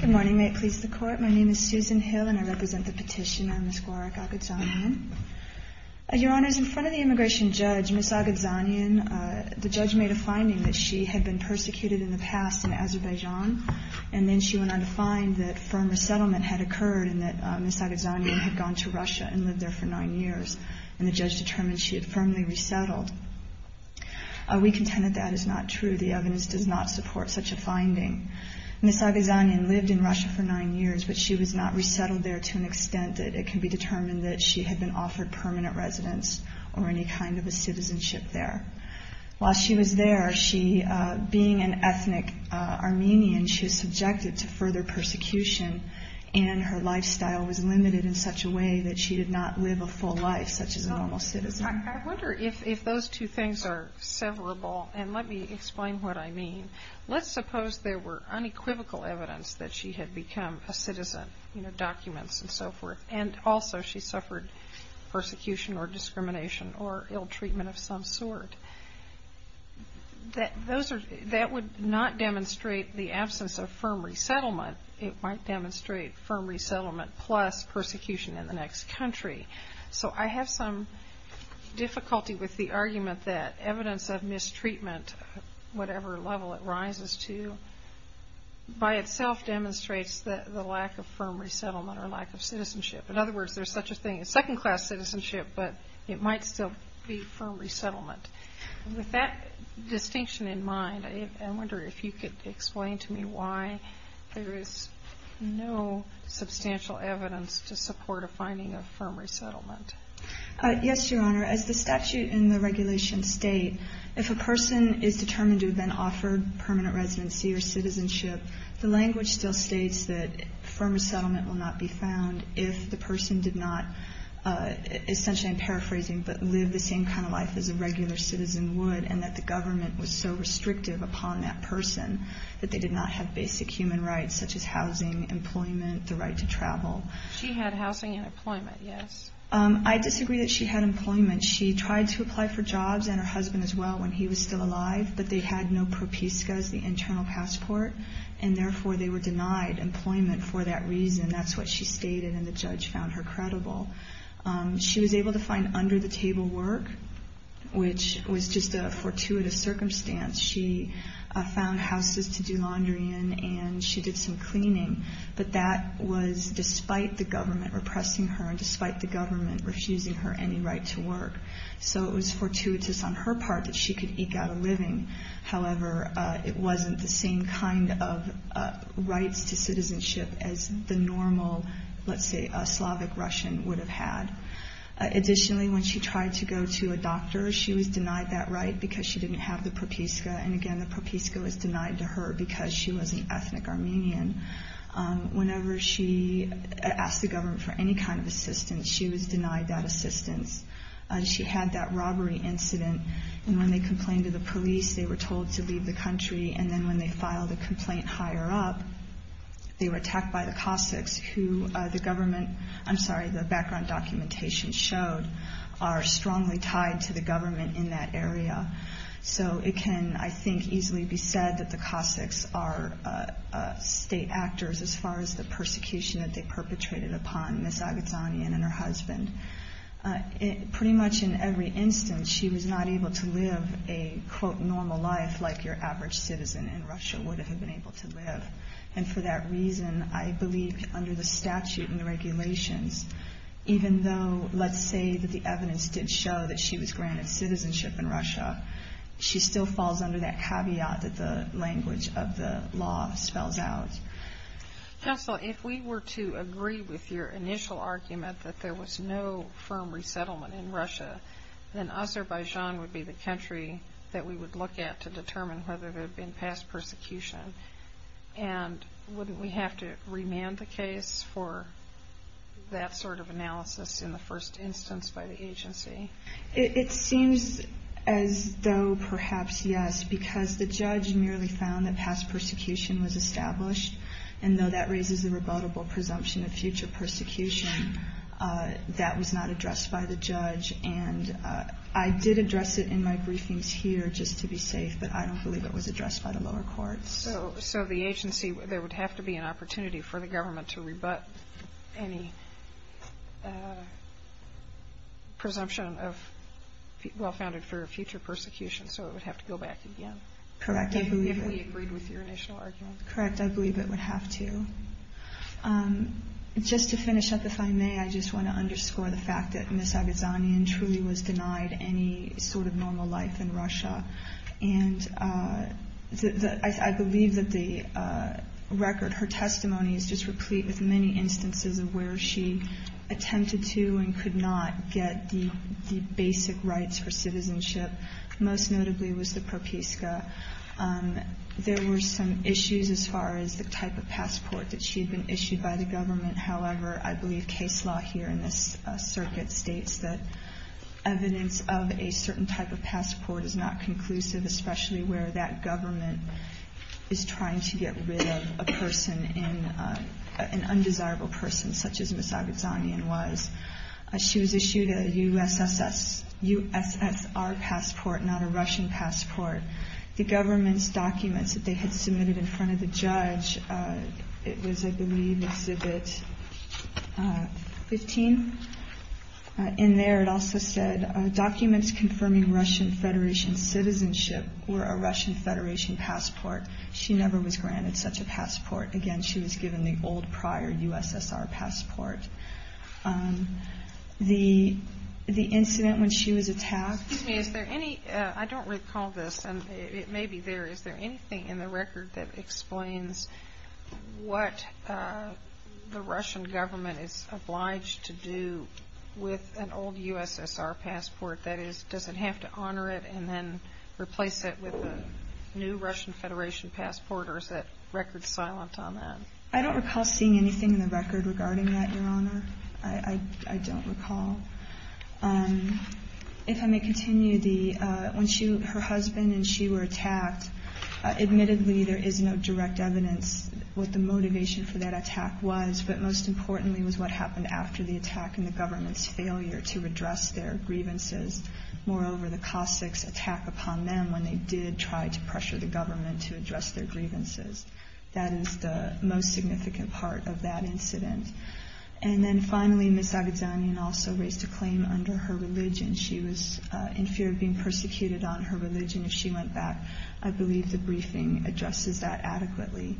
Good morning. May it please the Court. My name is Susan Hill and I represent the petitioner, Ms. Gwarak Agadzhanyan. Your Honours, in front of the immigration judge, Ms. Agadzhanyan, the judge made a finding that she had been persecuted in the past in Azerbaijan and then she went on to find that firm resettlement had occurred and that Ms. Agadzhanyan had gone to Russia and lived there for nine years and the judge determined she had firmly resettled. We contend that that is not true. The evidence does not support such a finding. Ms. Agadzhanyan lived in Russia for nine years but she was not resettled there to an extent that it can be determined that she had been offered permanent residence or any kind of a citizenship there. While she was there, being an ethnic Armenian, she was subjected to further persecution and her lifestyle was limited in such a way that she did not live a full life such as a normal citizen. I wonder if those two things are severable and let me explain what I mean. Let's suppose there were unequivocal evidence that she had become a citizen, you know, documents and so forth, and also she suffered persecution or discrimination or ill treatment of some sort. That would not demonstrate the absence of firm resettlement. It might demonstrate firm resettlement plus persecution in the next country. So I have some difficulty with the argument that evidence of mistreatment, whatever level it rises to, by itself demonstrates the lack of firm resettlement or lack of citizenship. In other words, there's such a thing as second class citizenship but it might still be firm resettlement. With that distinction in mind, I wonder if you could explain to me why there is no substantial evidence to support a finding of firm resettlement. Yes, Your Honor. As the statute in the regulation state, if a person is determined to have been offered permanent residency or citizenship, the language still states that firm resettlement will not be found if the person did not essentially, I'm paraphrasing, but live the same kind of life as a regular citizen would and that the government was so restrictive upon that person that they did not have basic human rights such as housing, employment, the right to travel. She had housing and employment, yes. I disagree that she had employment. She tried to apply for jobs and her husband as well when he was still alive but they had no propiska as the internal passport and therefore they were denied employment for that reason. That's what she stated and the judge found her credible. She was able to find under the table work, which was just a fortuitous circumstance. She found houses to do laundry in and she did some cleaning but that was despite the government repressing her and despite the government refusing her any right to work. So it was fortuitous on her part that she could eke out a living. However, it wasn't the same kind of rights to citizenship as the normal, let's say, Slavic Russian would have had. Additionally, when she tried to go to a doctor, she was denied that right because she didn't have the propiska and again, the propiska was denied to her because she was an ethnic Armenian. Whenever she asked the government for any kind of assistance, she was denied that assistance. She had that robbery incident and when they complained to the police, they were told to leave the country and then when they filed a complaint higher up, they were attacked by the Cossacks who the background documentation showed are strongly tied to the government in that area. So it can, I think, easily be said that the Cossacks are state actors as far as the persecution that they perpetrated upon Ms. Aghazanian and her husband. Pretty much in every instance, she was not able to live a, quote, normal life like your average citizen in Russia would have been able to live. And for that reason, I believe under the statute and the regulations, even though let's say that the evidence did show that she was granted citizenship in Russia, she still falls under that caveat that the language of the law spells out. Counsel, if we were to agree with your initial argument that there was no firm resettlement in Russia, then Azerbaijan would be the country that we would look at to determine whether there had been past persecution. And wouldn't we have to remand the case for that sort of analysis in the first instance by the agency? It seems as though perhaps yes, because the judge merely found that past persecution was established. And though that raises a rebuttable presumption of future persecution, that was not addressed by the judge. And I did address it in my briefings here just to be safe, but I don't believe it was addressed by the lower courts. So the agency, there would have to be an opportunity for the government to rebut any presumption of well-founded for future persecution, so it would have to go back again. Correct. If we agreed with your initial argument. Correct. I believe it would have to. Just to finish up, if I may, I just want to underscore the fact that Ms. I believe that the record, her testimony is just replete with many instances of where she attempted to and could not get the basic rights for citizenship. Most notably was the propiska. There were some issues as far as the type of passport that she had been issued by the government. However, I believe case law here in this circuit states that evidence of a certain type of passport is not conclusive, especially where that government is trying to get rid of a person, an undesirable person, such as Ms. Aghazanian was. She was issued a USSR passport, not a Russian passport. The government's documents that they had submitted in front of the judge, it was, I believe, Exhibit 15. In there it also said, documents confirming Russian Federation citizenship were a Russian Federation passport. She never was granted such a passport. Again, she was given the old prior USSR passport. The incident when she was attacked. Excuse me, is there any, I don't recall this, and it may be there, but is there anything in the record that explains what the Russian government is obliged to do with an old USSR passport? That is, does it have to honor it and then replace it with a new Russian Federation passport, or is that record silent on that? I don't recall seeing anything in the record regarding that, Your Honor. I don't recall. If I may continue, when her husband and she were attacked, admittedly there is no direct evidence what the motivation for that attack was, but most importantly was what happened after the attack and the government's failure to address their grievances. Moreover, the Cossacks attack upon them when they did try to pressure the government to address their grievances. That is the most significant part of that incident. And then finally, Ms. Zagidzanyan also raised a claim under her religion. She was in fear of being persecuted on her religion if she went back. I believe the briefing addresses that adequately.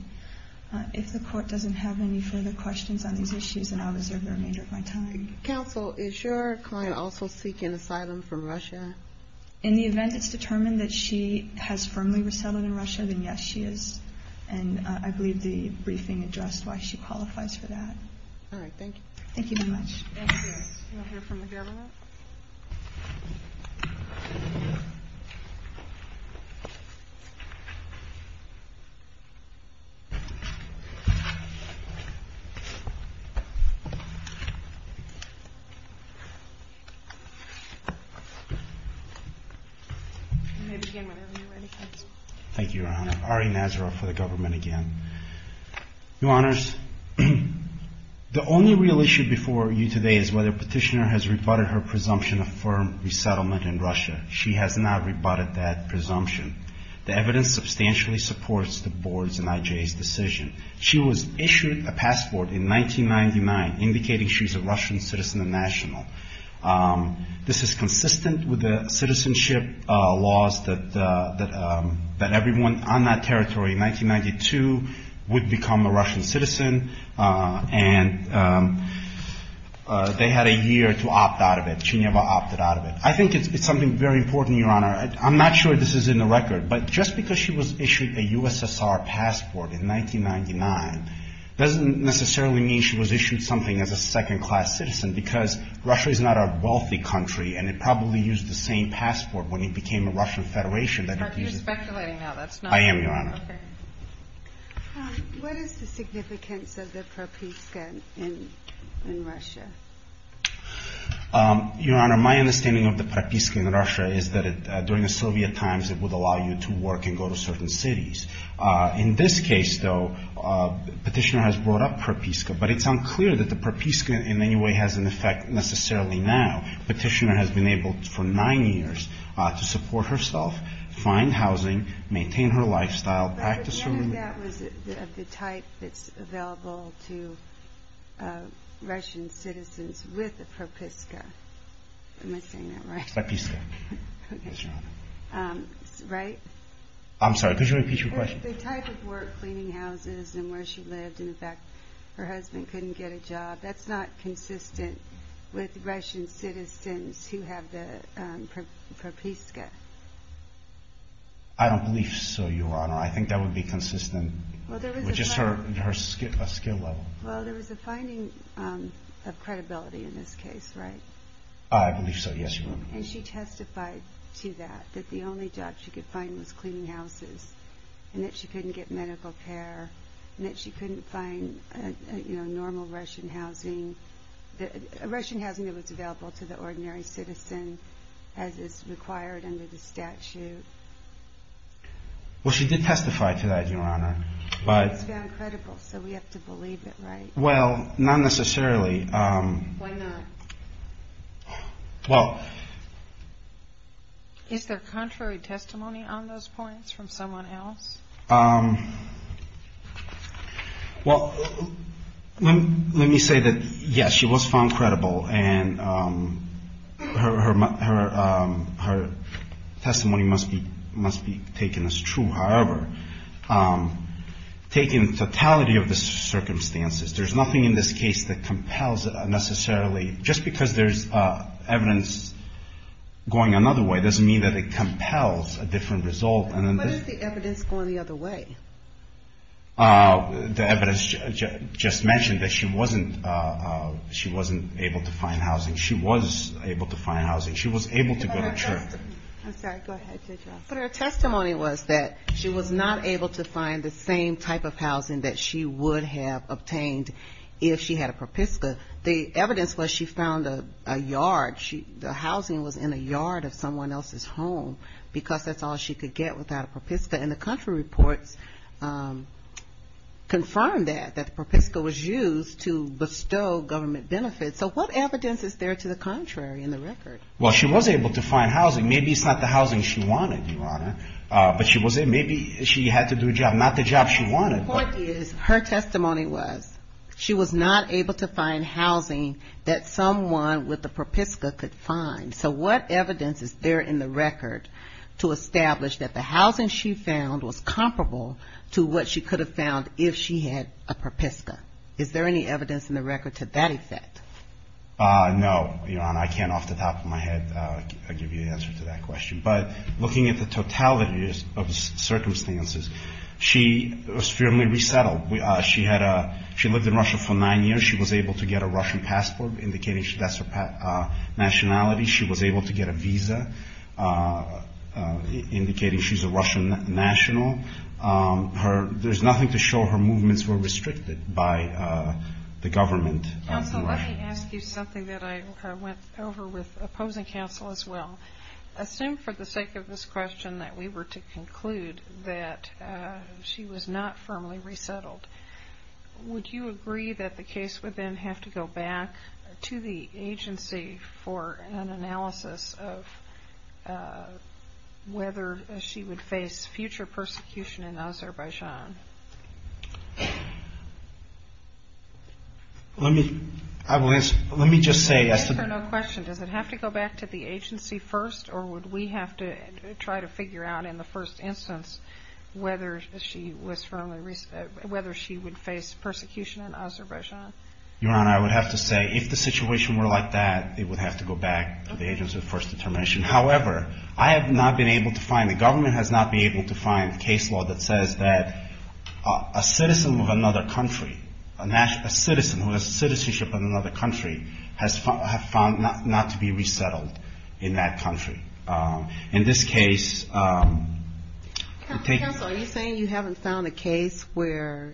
If the Court doesn't have any further questions on these issues, then I will reserve the remainder of my time. Counsel, is your client also seeking asylum from Russia? In the event it's determined that she has firmly resettled in Russia, then yes, she is. And I believe the briefing addressed why she qualifies for that. All right, thank you. Thank you very much. Thank you. We'll hear from the governor. Thank you, Your Honor. Ari Nazaroff for the government again. Your Honors, the only real issue before you today is whether Petitioner has rebutted her presumption of firm resettlement in Russia. She has not rebutted that presumption. The evidence substantially supports the Board's and IJA's decision. She was issued a passport in 1999 indicating she's a Russian citizen and national. This is consistent with the citizenship laws that everyone on that territory in 1992 would become a Russian citizen. And they had a year to opt out of it. She never opted out of it. I think it's something very important, Your Honor. I'm not sure this is in the record, but just because she was issued a USSR passport in 1999 doesn't necessarily mean she was issued something as a second-class citizen because Russia is not a wealthy country and it probably used the same passport when it became a Russian federation. You're speculating now. I am, Your Honor. Okay. What is the significance of the propiska in Russia? Your Honor, my understanding of the propiska in Russia is that during the Soviet times it would allow you to work and go to certain cities. In this case, though, Petitioner has brought up propiska, but it's unclear that the propiska in any way has an effect necessarily now. Petitioner has been able for nine years to support herself, find housing, maintain her lifestyle, practice her religion. But none of that was of the type that's available to Russian citizens with a propiska. Am I saying that right? Propiska, yes, Your Honor. Right? I'm sorry, could you repeat your question? The type of work, cleaning houses and where she lived, in fact, her husband couldn't get a job, that's not consistent with Russian citizens who have the propiska. I don't believe so, Your Honor. I think that would be consistent with just her skill level. Well, there was a finding of credibility in this case, right? I believe so, yes, Your Honor. And she testified to that, that the only job she could find was cleaning houses, and that she couldn't get medical care, and that she couldn't find normal Russian housing, Russian housing that was available to the ordinary citizen as is required under the statute. Well, she did testify to that, Your Honor. But it's found credible, so we have to believe it, right? Well, not necessarily. Why not? Well. Is there contrary testimony on those points from someone else? Well, let me say that, yes, she was found credible, and her testimony must be taken as true. However, taking the totality of the circumstances, there's nothing in this case that compels necessarily, just because there's evidence going another way doesn't mean that it compels a different result. But is the evidence going the other way? The evidence just mentioned that she wasn't able to find housing. She was able to find housing. She was able to go to church. I'm sorry, go ahead, Judge Ross. But her testimony was that she was not able to find the same type of housing that she would have obtained if she had a ProPISCA. The evidence was she found a yard. The housing was in a yard of someone else's home because that's all she could get without a ProPISCA, and the country reports confirm that, that ProPISCA was used to bestow government benefits. So what evidence is there to the contrary in the record? Well, she was able to find housing. Maybe it's not the housing she wanted, Your Honor, but she was able to. Maybe she had to do a job, not the job she wanted. The point is, her testimony was she was not able to find housing that someone with a ProPISCA could find. So what evidence is there in the record to establish that the housing she found was comparable to what she could have found if she had a ProPISCA? Is there any evidence in the record to that effect? No, Your Honor. I can't off the top of my head give you the answer to that question. But looking at the totality of the circumstances, she was firmly resettled. She lived in Russia for nine years. She was able to get a Russian passport indicating that's her nationality. She was able to get a visa indicating she's a Russian national. There's nothing to show her movements were restricted by the government. Counsel, let me ask you something that I went over with opposing counsel as well. Assume for the sake of this question that we were to conclude that she was not firmly resettled. Would you agree that the case would then have to go back to the agency for an analysis of whether she would face future persecution in Azerbaijan? Let me just say as to the question, does it have to go back to the agency first or would we have to try to figure out in the first instance whether she would face persecution in Azerbaijan? Your Honor, I would have to say if the situation were like that, it would have to go back to the agency of first determination. However, I have not been able to find, the government has not been able to find a case law that says that a citizen of another country, a citizen who has citizenship in another country, has found not to be resettled in that country. In this case. Counsel, are you saying you haven't found a case where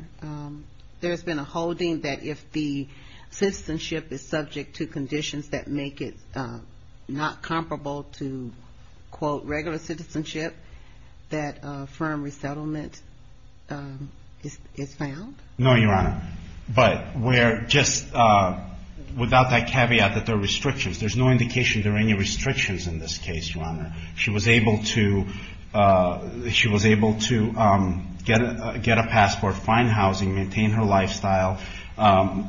there's been a holding that if the citizenship is subject to conditions that make it not comparable to, quote, regular citizenship, that firm resettlement is found? No, Your Honor. But where just without that caveat that there are restrictions, there's no indication there are any restrictions in this case, Your Honor. She was able to get a passport, find housing, maintain her lifestyle.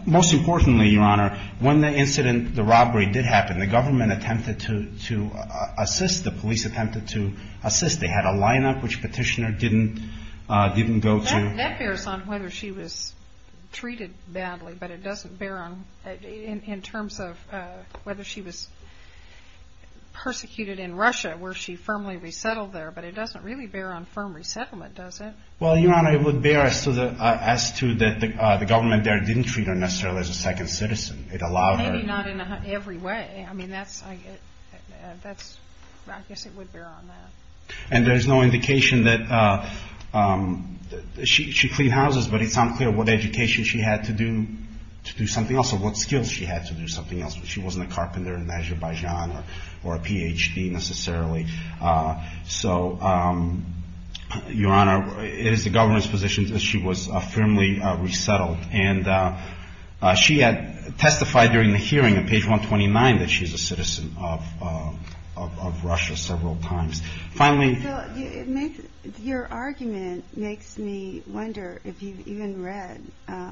Most importantly, Your Honor, when the incident, the robbery did happen, the government attempted to assist, the police attempted to assist. They had a lineup which Petitioner didn't go to. That bears on whether she was treated badly, but it doesn't bear on, in terms of whether she was persecuted in Russia, where she firmly resettled there, but it doesn't really bear on firm resettlement, does it? Well, Your Honor, it would bear as to that the government there didn't treat her necessarily as a second citizen. It allowed her. Maybe not in every way. I mean, that's, I guess it would bear on that. And there's no indication that she cleaned houses, but it's unclear what education she had to do something else or what skills she had to do something else. She wasn't a carpenter in Azerbaijan or a Ph.D. necessarily. So, Your Honor, it is the government's position that she was firmly resettled. And she had testified during the hearing on page 129 that she's a citizen of Russia several times. Finally. Your argument makes me wonder if you've even read 8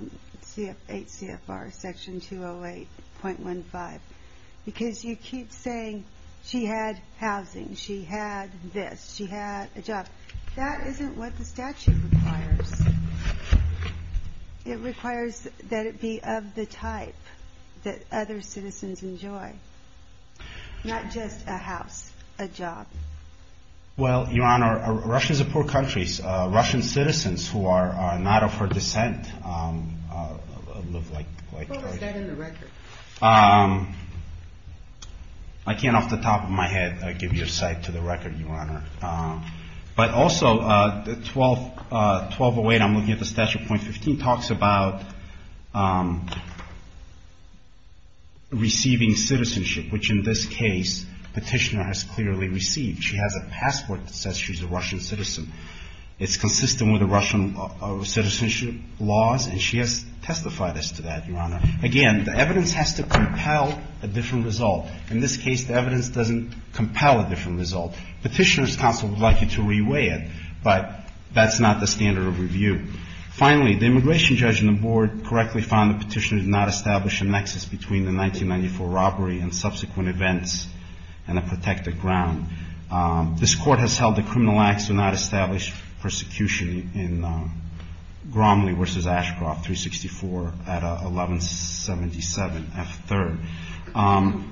CFR section 208.15, because you keep saying she had housing. She had this. She had a job. That isn't what the statute requires. It requires that it be of the type that other citizens enjoy, not just a house, a job. Well, Your Honor, Russia is a poor country. Russian citizens who are not of her descent live like. Who is dead in the record? I can't off the top of my head give you a cite to the record, Your Honor. But also, the 1208, I'm looking at the statute point 15, talks about receiving citizenship, which in this case, petitioner has clearly received. She has a passport that says she's a Russian citizen. It's consistent with the Russian citizenship laws, and she has testified as to that, Your Honor. Again, the evidence has to compel a different result. In this case, the evidence doesn't compel a different result. Petitioner's counsel would like you to reweigh it, but that's not the standard of review. Finally, the immigration judge and the board correctly found the petitioner did not establish a nexus between the 1994 robbery and subsequent events and a protected ground. This court has held the criminal acts do not establish persecution in Gromley versus Ashcroft 364 at 1177 F3rd.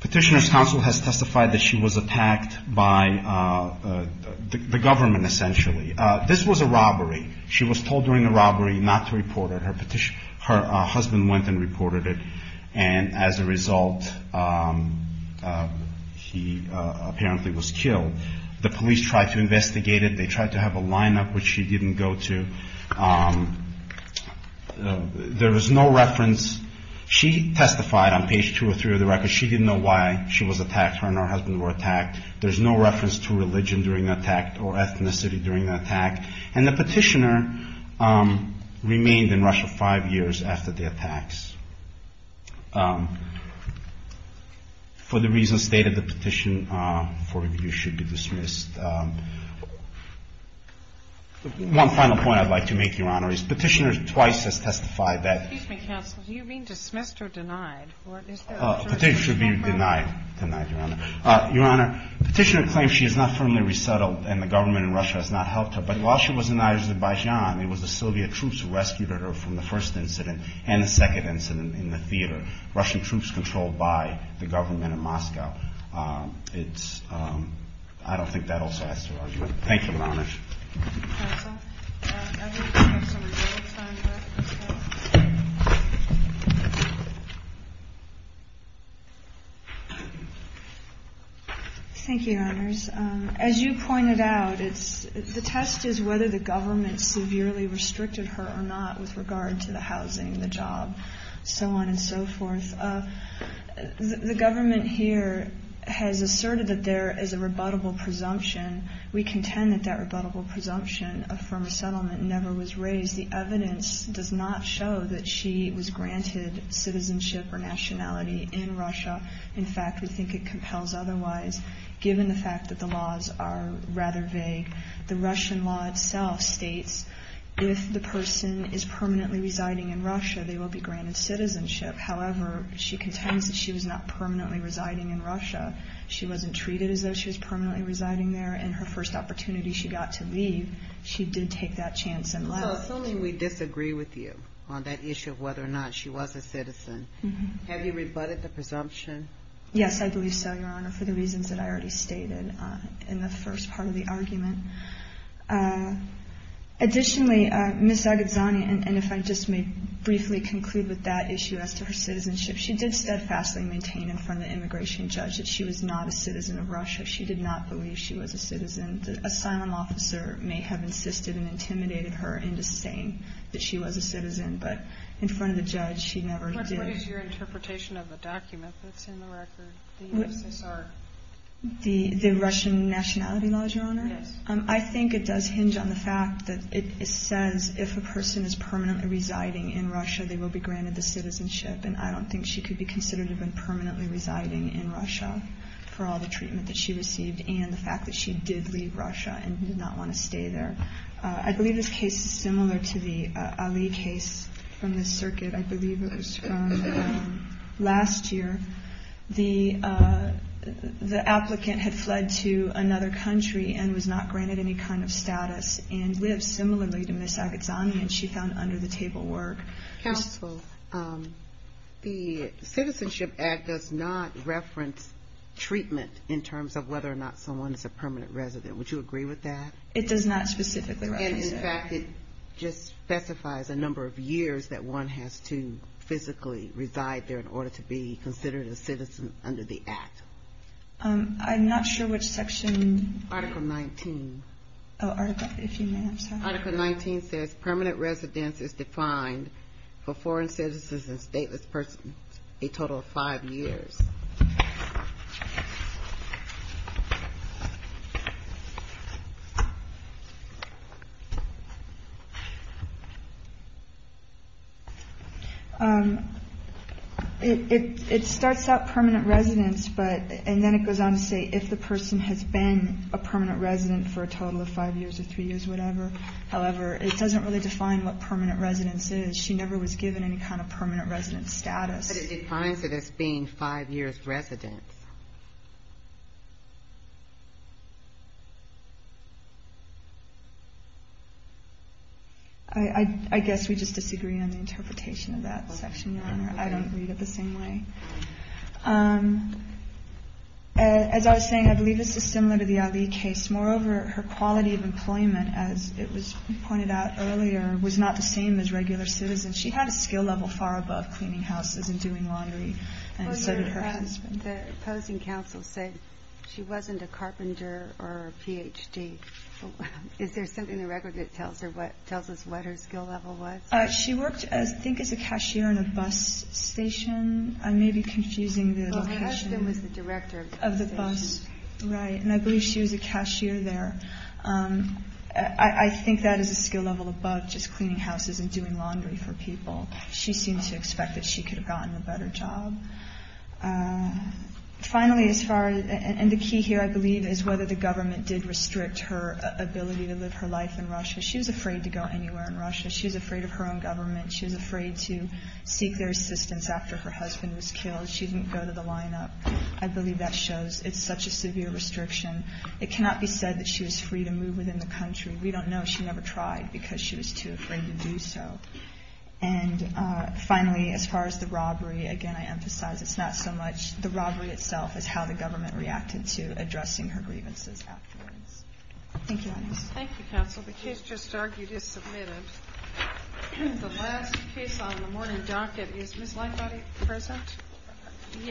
Petitioner's counsel has testified that she was attacked by the government, essentially. This was a robbery. She was told during the robbery not to report it. Her husband went and reported it, and as a result, he apparently was killed. The police tried to investigate it. They tried to have a lineup, which she didn't go to. There was no reference. She testified on page 203 of the record. She didn't know why she was attacked, her and her husband were attacked. There's no reference to religion during the attack or ethnicity during the attack. And the petitioner remained in Russia five years after the attacks. For the reasons stated, the petition for review should be dismissed. One final point I'd like to make, Your Honor, is petitioner twice has testified that. Excuse me, counsel, do you mean dismissed or denied? Petitioner should be denied, Your Honor. Your Honor, petitioner claims she is not firmly resettled and the government in Russia has not helped her. But while she was in Azerbaijan, it was the Soviet troops who rescued her from the first incident and the second incident in the theater. Russian troops controlled by the government in Moscow. I don't think that also adds to her argument. Thank you, Your Honor. Thank you, Your Honors. As you pointed out, the test is whether the government severely restricted her or not with regard to the housing, the job, so on and so forth. The government here has asserted that there is a rebuttable presumption. We contend that that rebuttable presumption of firm resettlement never was raised. The evidence does not show that she was granted citizenship or nationality in Russia. In fact, we think it compels otherwise, given the fact that the laws are rather vague. The Russian law itself states if the person is permanently residing in Russia, they will be granted citizenship. However, she contends that she was not permanently residing in Russia. She wasn't treated as though she was permanently residing there, and her first opportunity she got to leave, she did take that chance and left. So assuming we disagree with you on that issue of whether or not she was a citizen, have you rebutted the presumption? Yes, I believe so, Your Honor, for the reasons that I already stated in the first part of the argument. Additionally, Ms. Zagidzani, and if I just may briefly conclude with that issue as to her citizenship, she did steadfastly maintain in front of the immigration judge that she was not a citizen of Russia. She did not believe she was a citizen. The asylum officer may have insisted and intimidated her into saying that she was a citizen, but in front of the judge, she never did. What is your interpretation of the document that's in the record, the U.S.S.R.? The Russian nationality law, Your Honor? Yes. I think it does hinge on the fact that it says if a person is permanently residing in Russia, they will be granted the citizenship, and I don't think she could be considered to have been permanently residing in Russia for all the treatment that she received and the fact that she did leave Russia and did not want to stay there. I believe this case is similar to the Ali case from this circuit. I believe it was from last year. The applicant had fled to another country and was not granted any kind of status and lived similarly to Ms. Agazzani, and she found under-the-table work. Counsel, the Citizenship Act does not reference treatment in terms of whether or not someone is a permanent resident. Would you agree with that? It does not specifically reference it. And, in fact, it just specifies a number of years that one has to physically reside there in order to be considered a citizen under the act. I'm not sure which section. Article 19. Article 19 says permanent residence is defined for foreign citizens and stateless persons a total of five years. It starts out permanent residence, and then it goes on to say if the person has been a permanent resident for a total of five years or three years, whatever. However, it doesn't really define what permanent residence is. She never was given any kind of permanent residence status. But it defines it as being five years residence. I guess we just disagree on the interpretation of that section, Your Honor. I don't read it the same way. As I was saying, I believe this is similar to the Ali case. Moreover, her quality of employment, as it was pointed out earlier, was not the same as regular citizens. She had a skill level far above cleaning houses and doing laundry, and so did her husband. The opposing counsel said she wasn't a carpenter or a Ph.D. Is there something in the record that tells us what her skill level was? She worked, I think, as a cashier in a bus station. I may be confusing the location of the bus. I believe she was a cashier there. I think that is a skill level above just cleaning houses and doing laundry for people. She seemed to expect that she could have gotten a better job. The key here, I believe, is whether the government did restrict her ability to live her life in Russia. She was afraid to go anywhere in Russia. She was afraid of her own government. She was afraid to seek their assistance after her husband was killed. She didn't go to the lineup. I believe that shows it's such a severe restriction. It cannot be said that she was free to move within the country. We don't know. She never tried because she was too afraid to do so. And finally, as far as the robbery, again, I emphasize it's not so much the robbery itself as how the government reacted to addressing her grievances afterwards. Thank you, Your Honor. Thank you, counsel. The case just argued is submitted. The last case on the morning docket is Ms. Lightbody present? Yes.